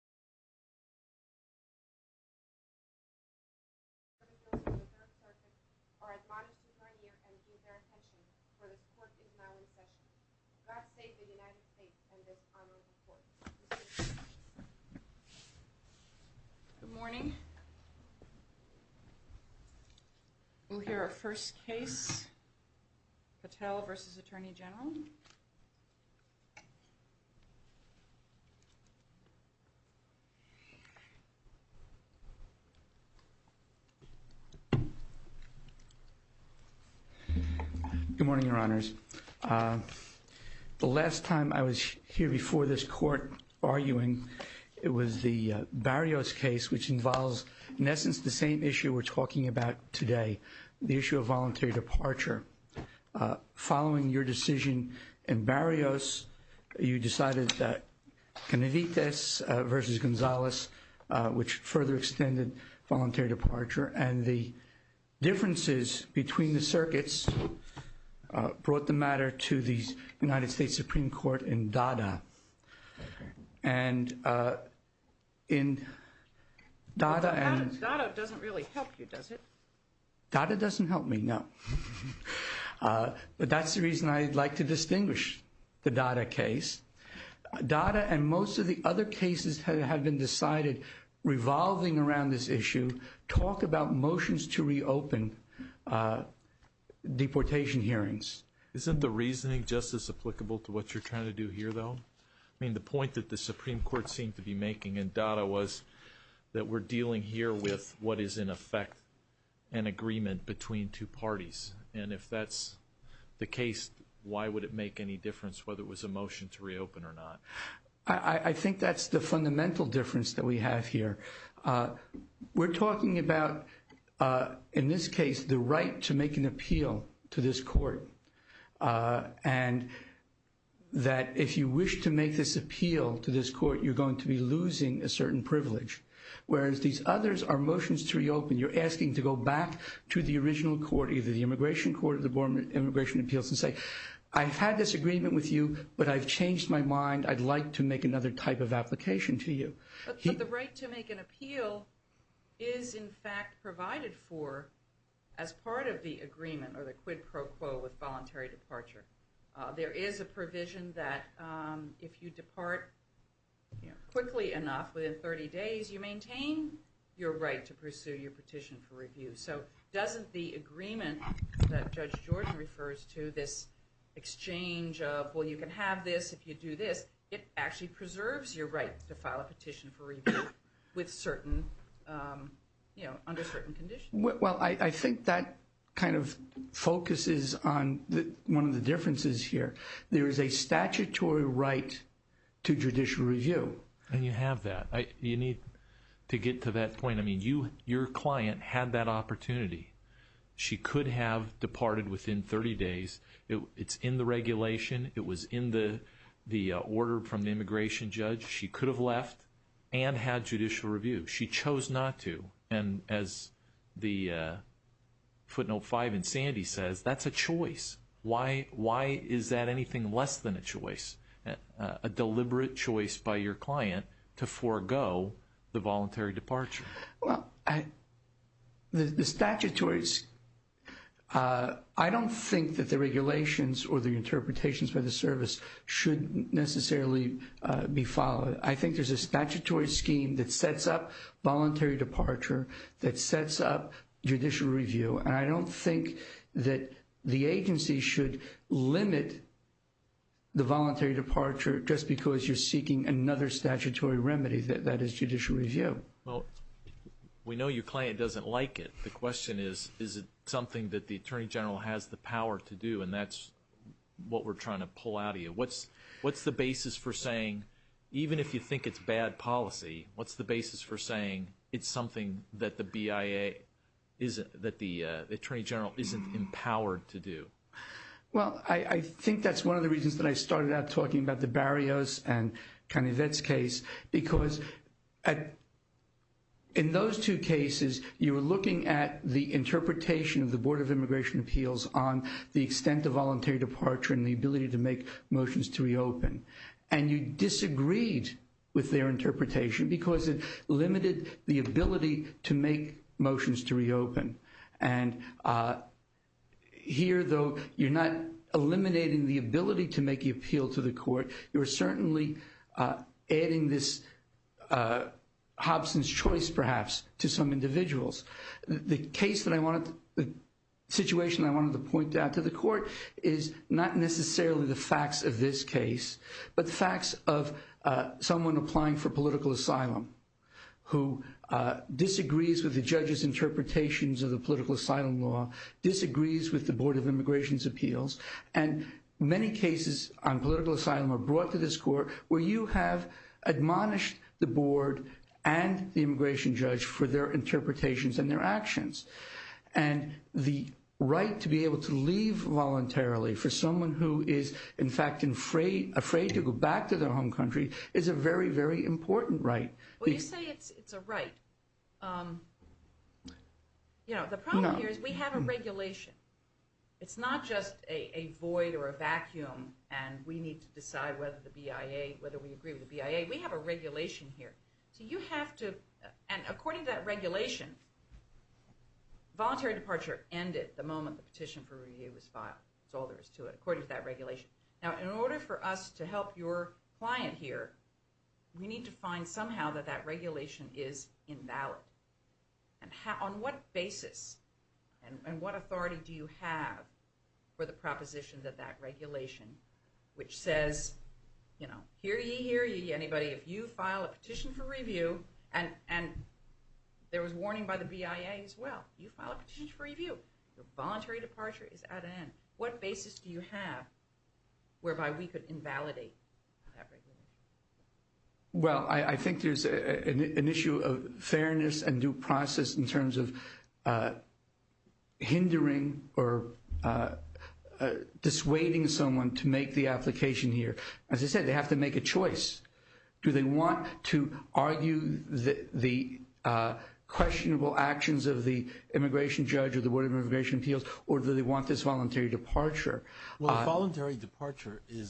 I heard that those of you on the 3rd Circuit are admonished to turn here and give their attention for this court is now in session. God save the United States and this honorable court. Good morning. We'll hear our first case. Patel v. Atty Gen. Good morning, Your Honors. The last time I was here before this court arguing, it was the Barrios case, which involves, in essence, the same issue we're talking about today, the issue of voluntary departure. Following your decision in Barrios, you decided that Caneditas v. Gonzalez, which further extended voluntary departure, and the differences between the circuits brought the matter to the United States Supreme Court in Dada. And in Dada and Dada doesn't really help you, does it? Dada doesn't help me, no. But that's the reason I'd like to distinguish the Dada case. Dada and most of the other cases have been decided revolving around this issue. Talk about motions to reopen deportation hearings. Isn't the reasoning just as applicable to what you're trying to do here, though? I mean, the point that the Supreme Court seemed to be making in Dada was that we're dealing here with what is, in effect, an agreement between two parties. And if that's the case, why would it make any difference whether it was a motion to reopen or not? I think that's the fundamental difference that we have here. We're talking about, in this case, the right to make an appeal to this court. And that if you wish to make this appeal to this court, you're going to be losing a certain privilege. Whereas these others are motions to reopen. You're asking to go back to the original court, either the Immigration Court or the Board of Immigration Appeals, and say, I've had this agreement with you, but I've changed my mind. I'd like to make another type of application to you. But the right to make an appeal is, in fact, provided for as part of the agreement or the quid pro quo with voluntary departure. There is a right to pursue your petition for review. So doesn't the agreement that Judge Jordan refers to, this exchange of, well, you can have this if you do this, it actually preserves your right to file a petition for review with certain, you know, under certain conditions? Well, I think that kind of focuses on one of the differences here. There is a statutory right to judicial review. And you have that. You need to get to that point. I mean, your client had that opportunity. She could have departed within 30 days. It's in the regulation. It was in the order from the immigration judge. She could have left and had judicial review. She chose not to. And as the footnote 5 in Sandy says, that's a choice. Why is that anything less than a choice, a deliberate choice by your client to forego the voluntary departure? Well, the statutory, I don't think that the regulations or the interpretations by the service should necessarily be followed. I think there's a statutory scheme that sets up voluntary departure, that sets up judicial review. And I don't think that the agency should limit the voluntary departure just because you're seeking another statutory remedy, that is judicial review. Well, we know your client doesn't like it. The question is, is it something that the attorney general has the power to do? And that's what we're trying to pull out of you. What's the basis for saying, even if you think it's bad policy, what's the basis for saying it's something that the BIA isn't, that the attorney general isn't empowered to do? Well, I think that's one of the reasons that I started out talking about the Barrios and Canivet's case. Because in those two cases, you were looking at the interpretation of the Board of Immigration Appeals on the extent of voluntary departure and the ability to make motions to reopen. And you disagreed with their interpretation because it limited the ability to make motions to reopen. And here, though, you're not eliminating the ability to make the appeal to the court. You're certainly adding this Hobson's choice, perhaps, to some individuals. The case that I wanted, the situation I wanted to point out to the court is not necessarily the facts of this case, but the facts of someone applying for political asylum who disagrees with the judge's interpretations of the political asylum law, disagrees with the Board of Immigration's appeals. And many cases on political asylum are brought to this court where you have admonished the board and the immigration judge for their interpretations and their actions. And the right to be able to leave voluntarily for someone who is, in fact, afraid to go back to their home country is a very, very important right. Well, you say it's a right. The problem here is we have a regulation. It's not just a void or a vacuum, and we need to decide whether we agree with the BIA. We have a regulation here. So you have to, and according to that regulation, voluntary departure ended the moment the petition for review was filed. That's all there is to it, according to that regulation. Now, in order for us to help your client here, we need to find somehow that that regulation is invalid. And on what basis and what authority do you have for the proposition that that regulation, which says, you know, hear ye, hear ye, anybody, if you file a petition for review, and there was warning by the BIA as well, you file a petition for review, your voluntary departure is at an end. What basis do you have whereby we could invalidate that regulation? Well, if voluntary departure is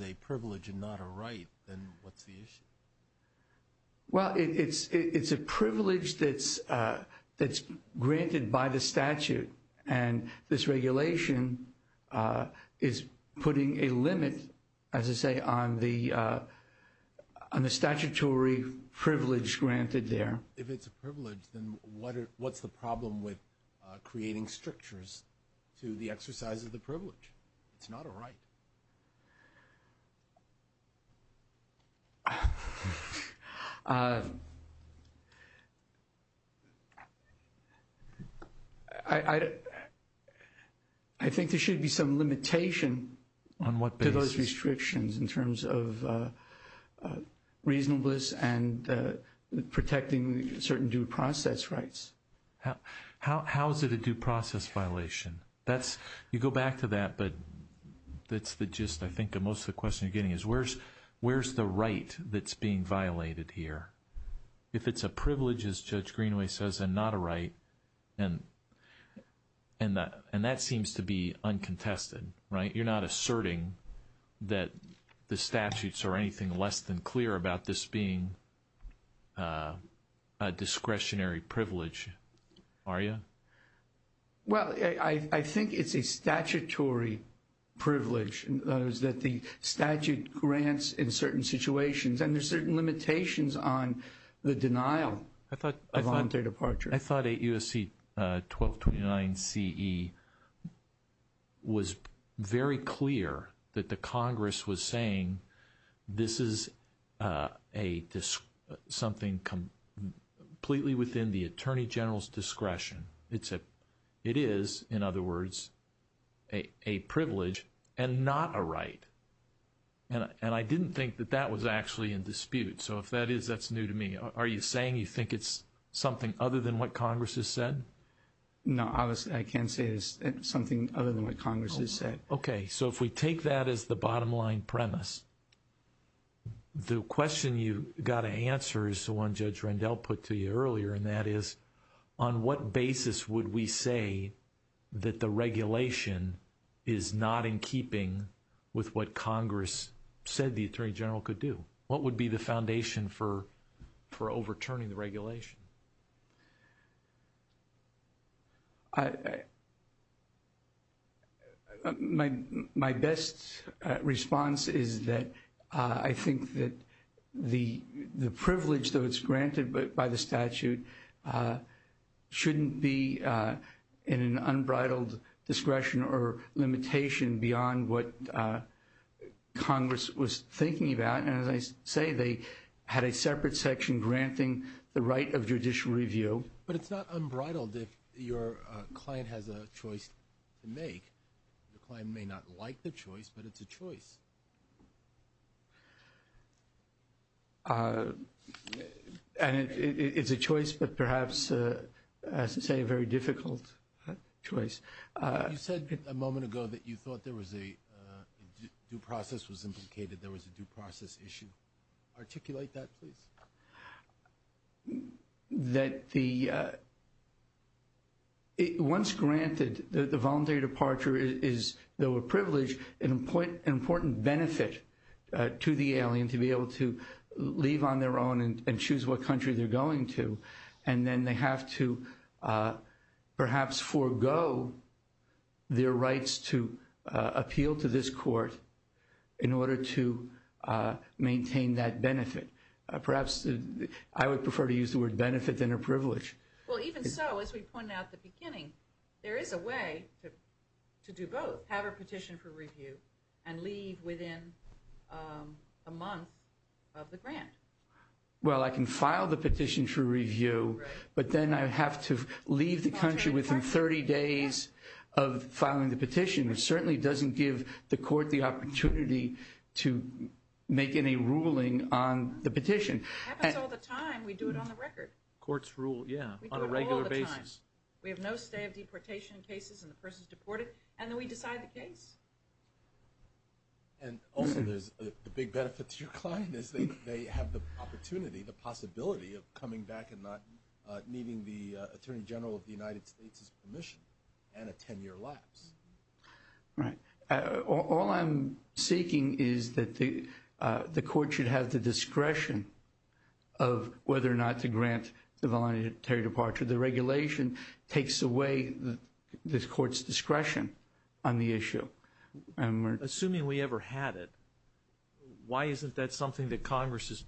a privilege and not a right, then what's the issue? Well, it's a privilege that's granted by the statute. And this regulation is putting a limit, as I say, on the statutory privilege granted there. But if it's a privilege, then what's the problem with creating strictures to the exercise of the privilege? It's not a right. I think there should be some limitation on what those restrictions in terms of reasonableness and protecting certain due process rights. How is it a due process violation? You go back to that, but that's the gist, I think, of most of the question you're getting is where's the right that's being violated here? If it's a privilege, as Judge Greenway says, and not a right, and that seems to be uncontested, right? You're not asserting that the statutes are anything less than clear about this being a discretionary privilege, are you? Well, I think it's a statutory privilege that the statute grants in certain situations, and there's certain limitations on the denial of voluntary departure. I thought 8 U.S.C. 1229 C.E. was very clear that the Congress was saying this is something completely within the Attorney General's discretion. It is, in other words, a privilege and not a right. And I didn't think that that was actually in dispute. So if that is, that's new to me. Are you saying you think it's something other than what Congress has said? No, I can't say it's something other than what Congress has said. Okay. So if we take that as the bottom line premise, the question you got to answer is the one Judge Rendell put to you earlier. And that is, on what basis would we say that the regulation is not in keeping with what Congress said the Attorney General could do? What would be the foundation for overturning the regulation? My best response is that I think that the privilege that was granted by the statute shouldn't be in an unbridled discretion or limitation beyond what Congress was thinking about. And as I say, they had a separate section granting the right of judicial review. But it's not unbridled if your client has a choice to make. Your client may not like the choice, but it's a choice. And it's a choice, but perhaps, as I say, a very difficult choice. You said a moment ago that you thought there was a due process was implicated. There was a due process issue. Articulate that, please. Once granted, the voluntary departure is, though a privilege, an important benefit to the alien to be able to leave on their own and choose what country they're going to. And then they have to perhaps forego their rights to appeal to this court in order to maintain that benefit. Perhaps I would prefer to use the word benefit than a privilege. Well, even so, as we pointed out at the beginning, there is a way to do both. Have a petition for review and leave within a month of the grant. Well, I can file the petition for review, but then I have to leave the country within 30 days of filing the petition, which certainly doesn't give the court the opportunity to make any ruling on the petition. Happens all the time. We do it on the record. Courts rule, yeah, on a regular basis. We have no stay of deportation cases and the person's deported, and then we decide the case. And also, there's the big benefit to your client is they have the opportunity, the possibility of coming back and not needing the attorney general of the United States' permission and a 10-year lapse. Right. All I'm seeking is that the court should have the discretion of whether or not to grant the voluntary departure. The regulation takes away the court's discretion on the issue. Assuming we ever had it, why isn't that something that Congress is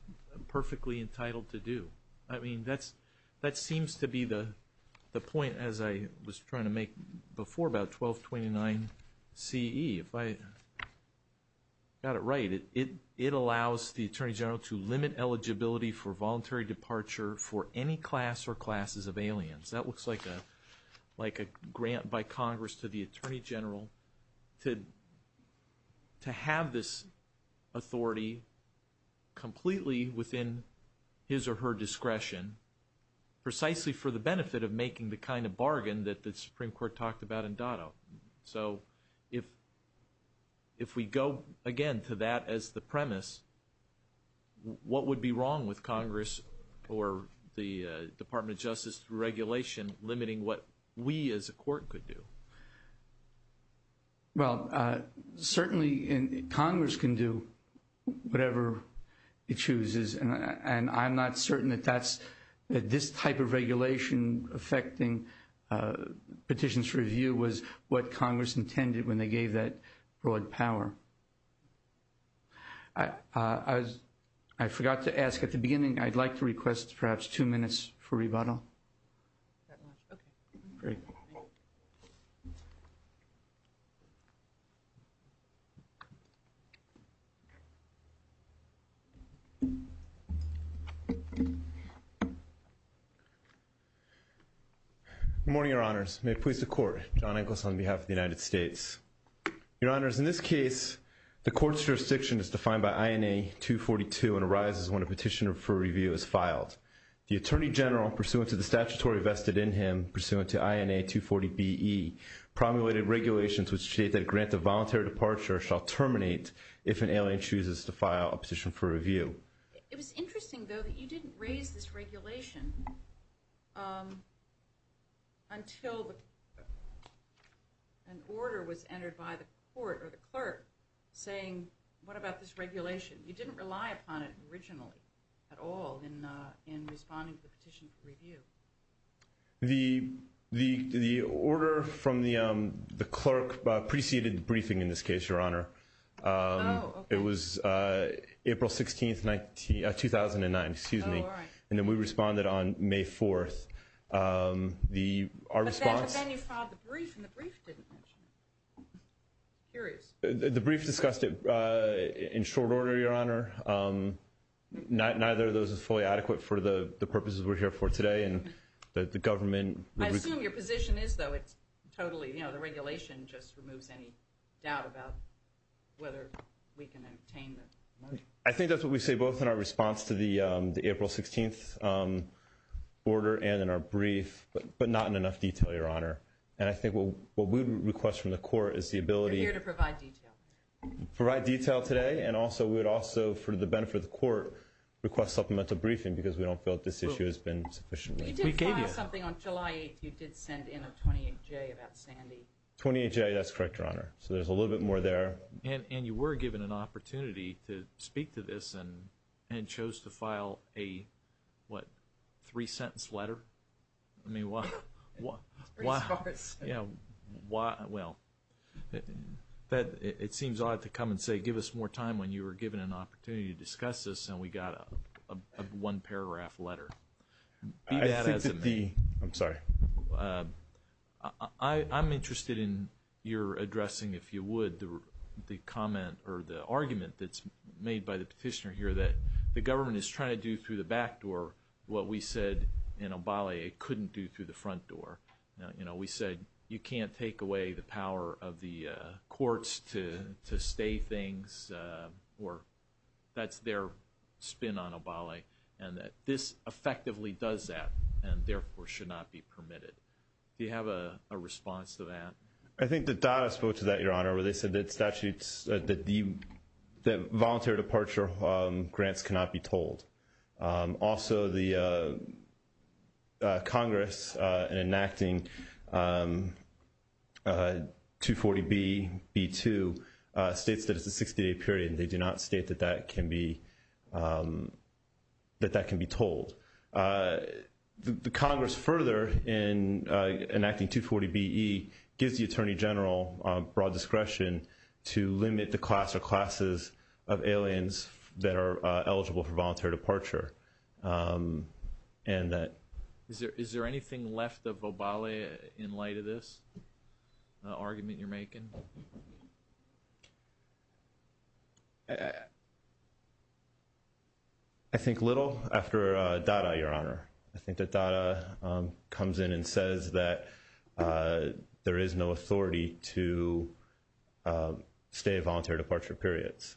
perfectly entitled to do? I mean, that seems to be the point, as I was trying to make before about 1229CE. If I got it right, it allows the attorney general to limit eligibility for voluntary departure for any class or classes of aliens. That looks like a grant by Congress to the attorney general to have this authority completely within his or her discretion, precisely for the benefit of making the kind of bargain that the Supreme Court talked about in Dotto. So if we go, again, to that as the premise, what would be wrong with Congress or the Department of Justice regulation limiting what we as a court could do? Well, certainly Congress can do whatever it chooses, and I'm not certain that this type of regulation affecting petitions for review was what Congress intended when they gave that broad power. I forgot to ask at the beginning, I'd like to request perhaps two minutes for rebuttal. That much, okay. Great. Good morning, your honors. May it please the court. John Echols on behalf of the United States. Your honors, in this case, the court's jurisdiction is defined by INA 242 and arises when a petition for review is filed. The attorney general, pursuant to the statutory vested in him, pursuant to INA 240BE, promulgated regulations which state that a grant of voluntary departure shall terminate if an alien chooses to file a petition for review. It was interesting, though, that you didn't raise this regulation until an order was entered by the court or the clerk saying, what about this regulation? You didn't rely upon it originally at all in responding to the petition for review. The order from the clerk preceded the briefing in this case, your honor. It was April 16th, 2009, excuse me. Oh, all right. And then we responded on May 4th. But then you filed the brief, and the brief didn't mention it. Curious. The brief discussed it in short order, your honor. Neither of those is fully adequate for the purposes we're here for today and the government. I assume your position is, though, it's totally, you know, the regulation just removes any doubt about whether we can obtain the money. I think that's what we say both in our response to the April 16th order and in our brief, but not in enough detail, your honor. And I think what we would request from the court is the ability. We're here to provide detail. Provide detail today. And also, we would also, for the benefit of the court, request supplemental briefing, because we don't feel that this issue has been sufficiently. We did file something on July 8th. You did send in a 28-J about Sandy. 28-J, that's correct, your honor. So there's a little bit more there. And you were given an opportunity to speak to this and chose to file a, what, three-sentence letter? I mean, why? Yeah, why? Well, it seems odd to come and say, give us more time when you were given an opportunity to discuss this and we got a one-paragraph letter. I think that the, I'm sorry. I'm interested in your addressing, if you would, the comment or the argument that's made by the petitioner here that the government is trying to do through the back door what we said in Obali it couldn't do through the front door. You know, we said you can't take away the power of the courts to stay things or that's their spin on Obali and that this effectively does that and therefore should not be permitted. Do you have a response to that? I think the data spoke to that, your honor, where they said that statutes, that voluntary departure grants cannot be told. Also, the Congress in enacting 240B-B-2 states that it's a 60-day period. They do not state that that can be told. The Congress further, in enacting 240B-E, gives the Attorney General broad discretion to limit the class or classes of aliens that are eligible for voluntary departure and that. Is there anything left of Obali in light of this argument you're making? I think little after DADA, your honor. I think that DADA comes in and says that there is no authority to stay at voluntary departure periods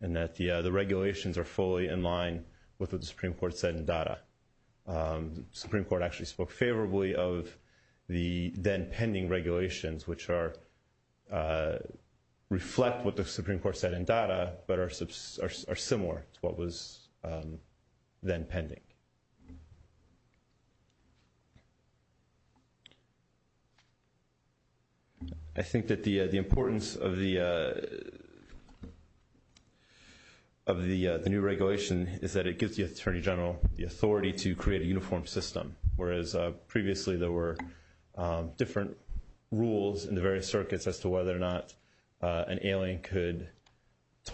and that the regulations are fully in line with what the Supreme Court said in DADA. Supreme Court actually spoke favorably of the then pending regulations which reflect what the Supreme Court said in DADA but are similar to what was then pending. I think that the importance of the new regulation is that it gives the Attorney General the authority to create a uniform system. Whereas previously there were different rules in the various circuits as to whether or not an alien could be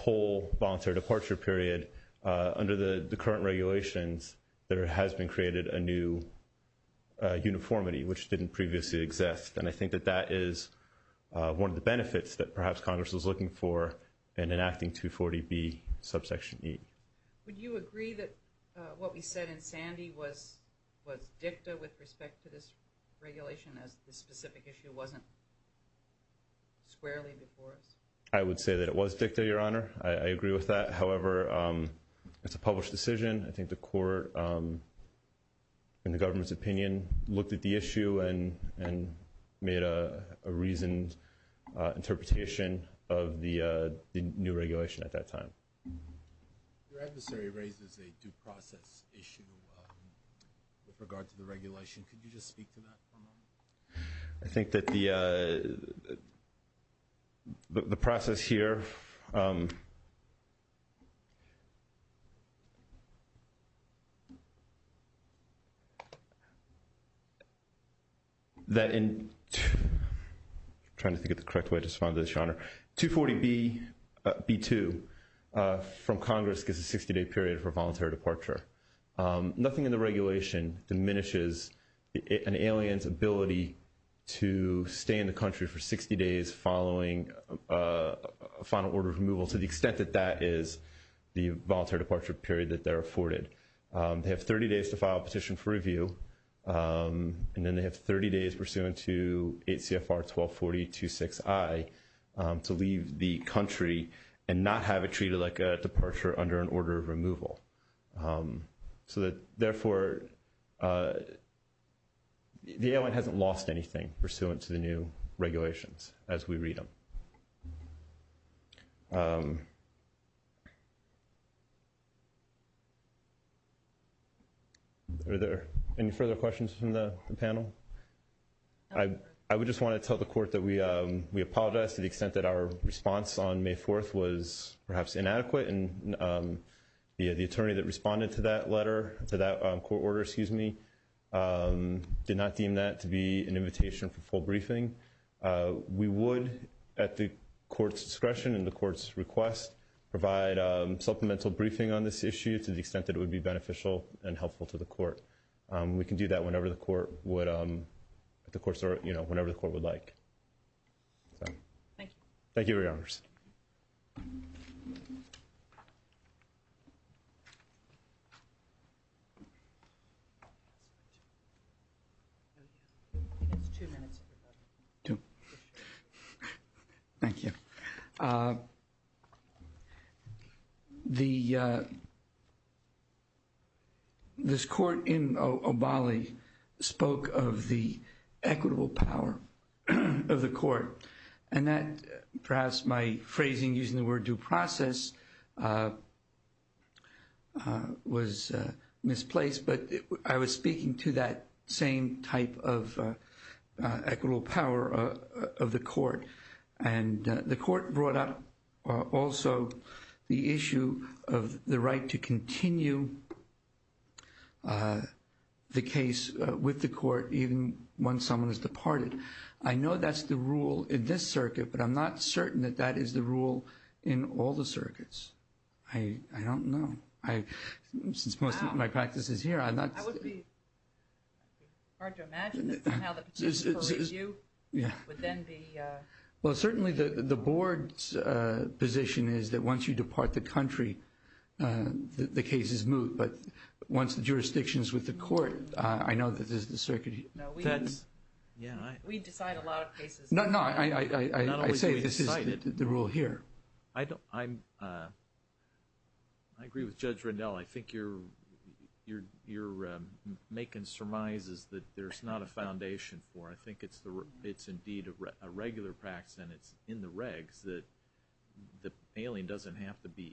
allowed to stay at a voluntary departure period, under the current regulations there has been created a new uniformity which didn't previously exist. And I think that that is one of the benefits that perhaps Congress was looking for in enacting 240B-E. Would you agree that what we said in Sandy was dicta with respect to this regulation as this specific issue wasn't squarely before us? I would say that it was dicta, your honor. I agree with that. However, it's a published decision. I think the court, in the government's opinion, looked at the issue and made a reasoned interpretation of the new regulation at that time. Your adversary raises a due process issue with regard to the regulation. Could you just speak to that for a moment? I think that the process here, that in, trying to think of the correct way to respond to this, your honor. 240B-B-2 from Congress gives a 60 day period for voluntary departure. Nothing in the regulation diminishes an alien's ability to stay in the country for 60 days following a final order of removal to the extent that that is the voluntary departure period that they're afforded. They have 30 days to file a petition for review. And then they have 30 days pursuant to 8 CFR 1240-26I to leave the country and not have it treated like a departure under an order of removal. So that, therefore, the alien hasn't lost anything pursuant to the new regulations as we read them. Are there any further questions from the panel? I would just want to tell the court that we apologize to the extent that our response on May 4th was perhaps inadequate. And the attorney that responded to that letter, to that court order, excuse me, did not deem that to be an invitation for full briefing. We would, at the court's discretion and the court's request, provide supplemental briefing on this issue to the extent that it would be beneficial and helpful to the court. We can do that whenever the court would, at the court's, you know, whenever the court would like. Thank you, your honors. Thank you. The, this court in Obali spoke of the equitable power of the court and that perhaps my phrasing using the word due process was misplaced, but I was speaking to that same type of equitable power of the court. And the court brought up also the issue of the right to continue the case with the court even once someone has departed. I know that's the rule in this circuit, but I'm not certain that that is the rule in all the circuits. I don't know. I, since most of my practice is here, I'm not. I would be hard to imagine that somehow the petition for review would then be. Well, certainly the board's position is that once you depart the country, the cases move. But once the jurisdictions with the court, I know that this is the circuit. No, we decide a lot of cases. No, no, I say this is the rule here. I don't, I'm, I agree with Judge Rendell. I think you're, you're, you're making surmises that there's not a foundation for. I think it's the, it's indeed a regular practice and it's in the regs that the mailing doesn't have to be.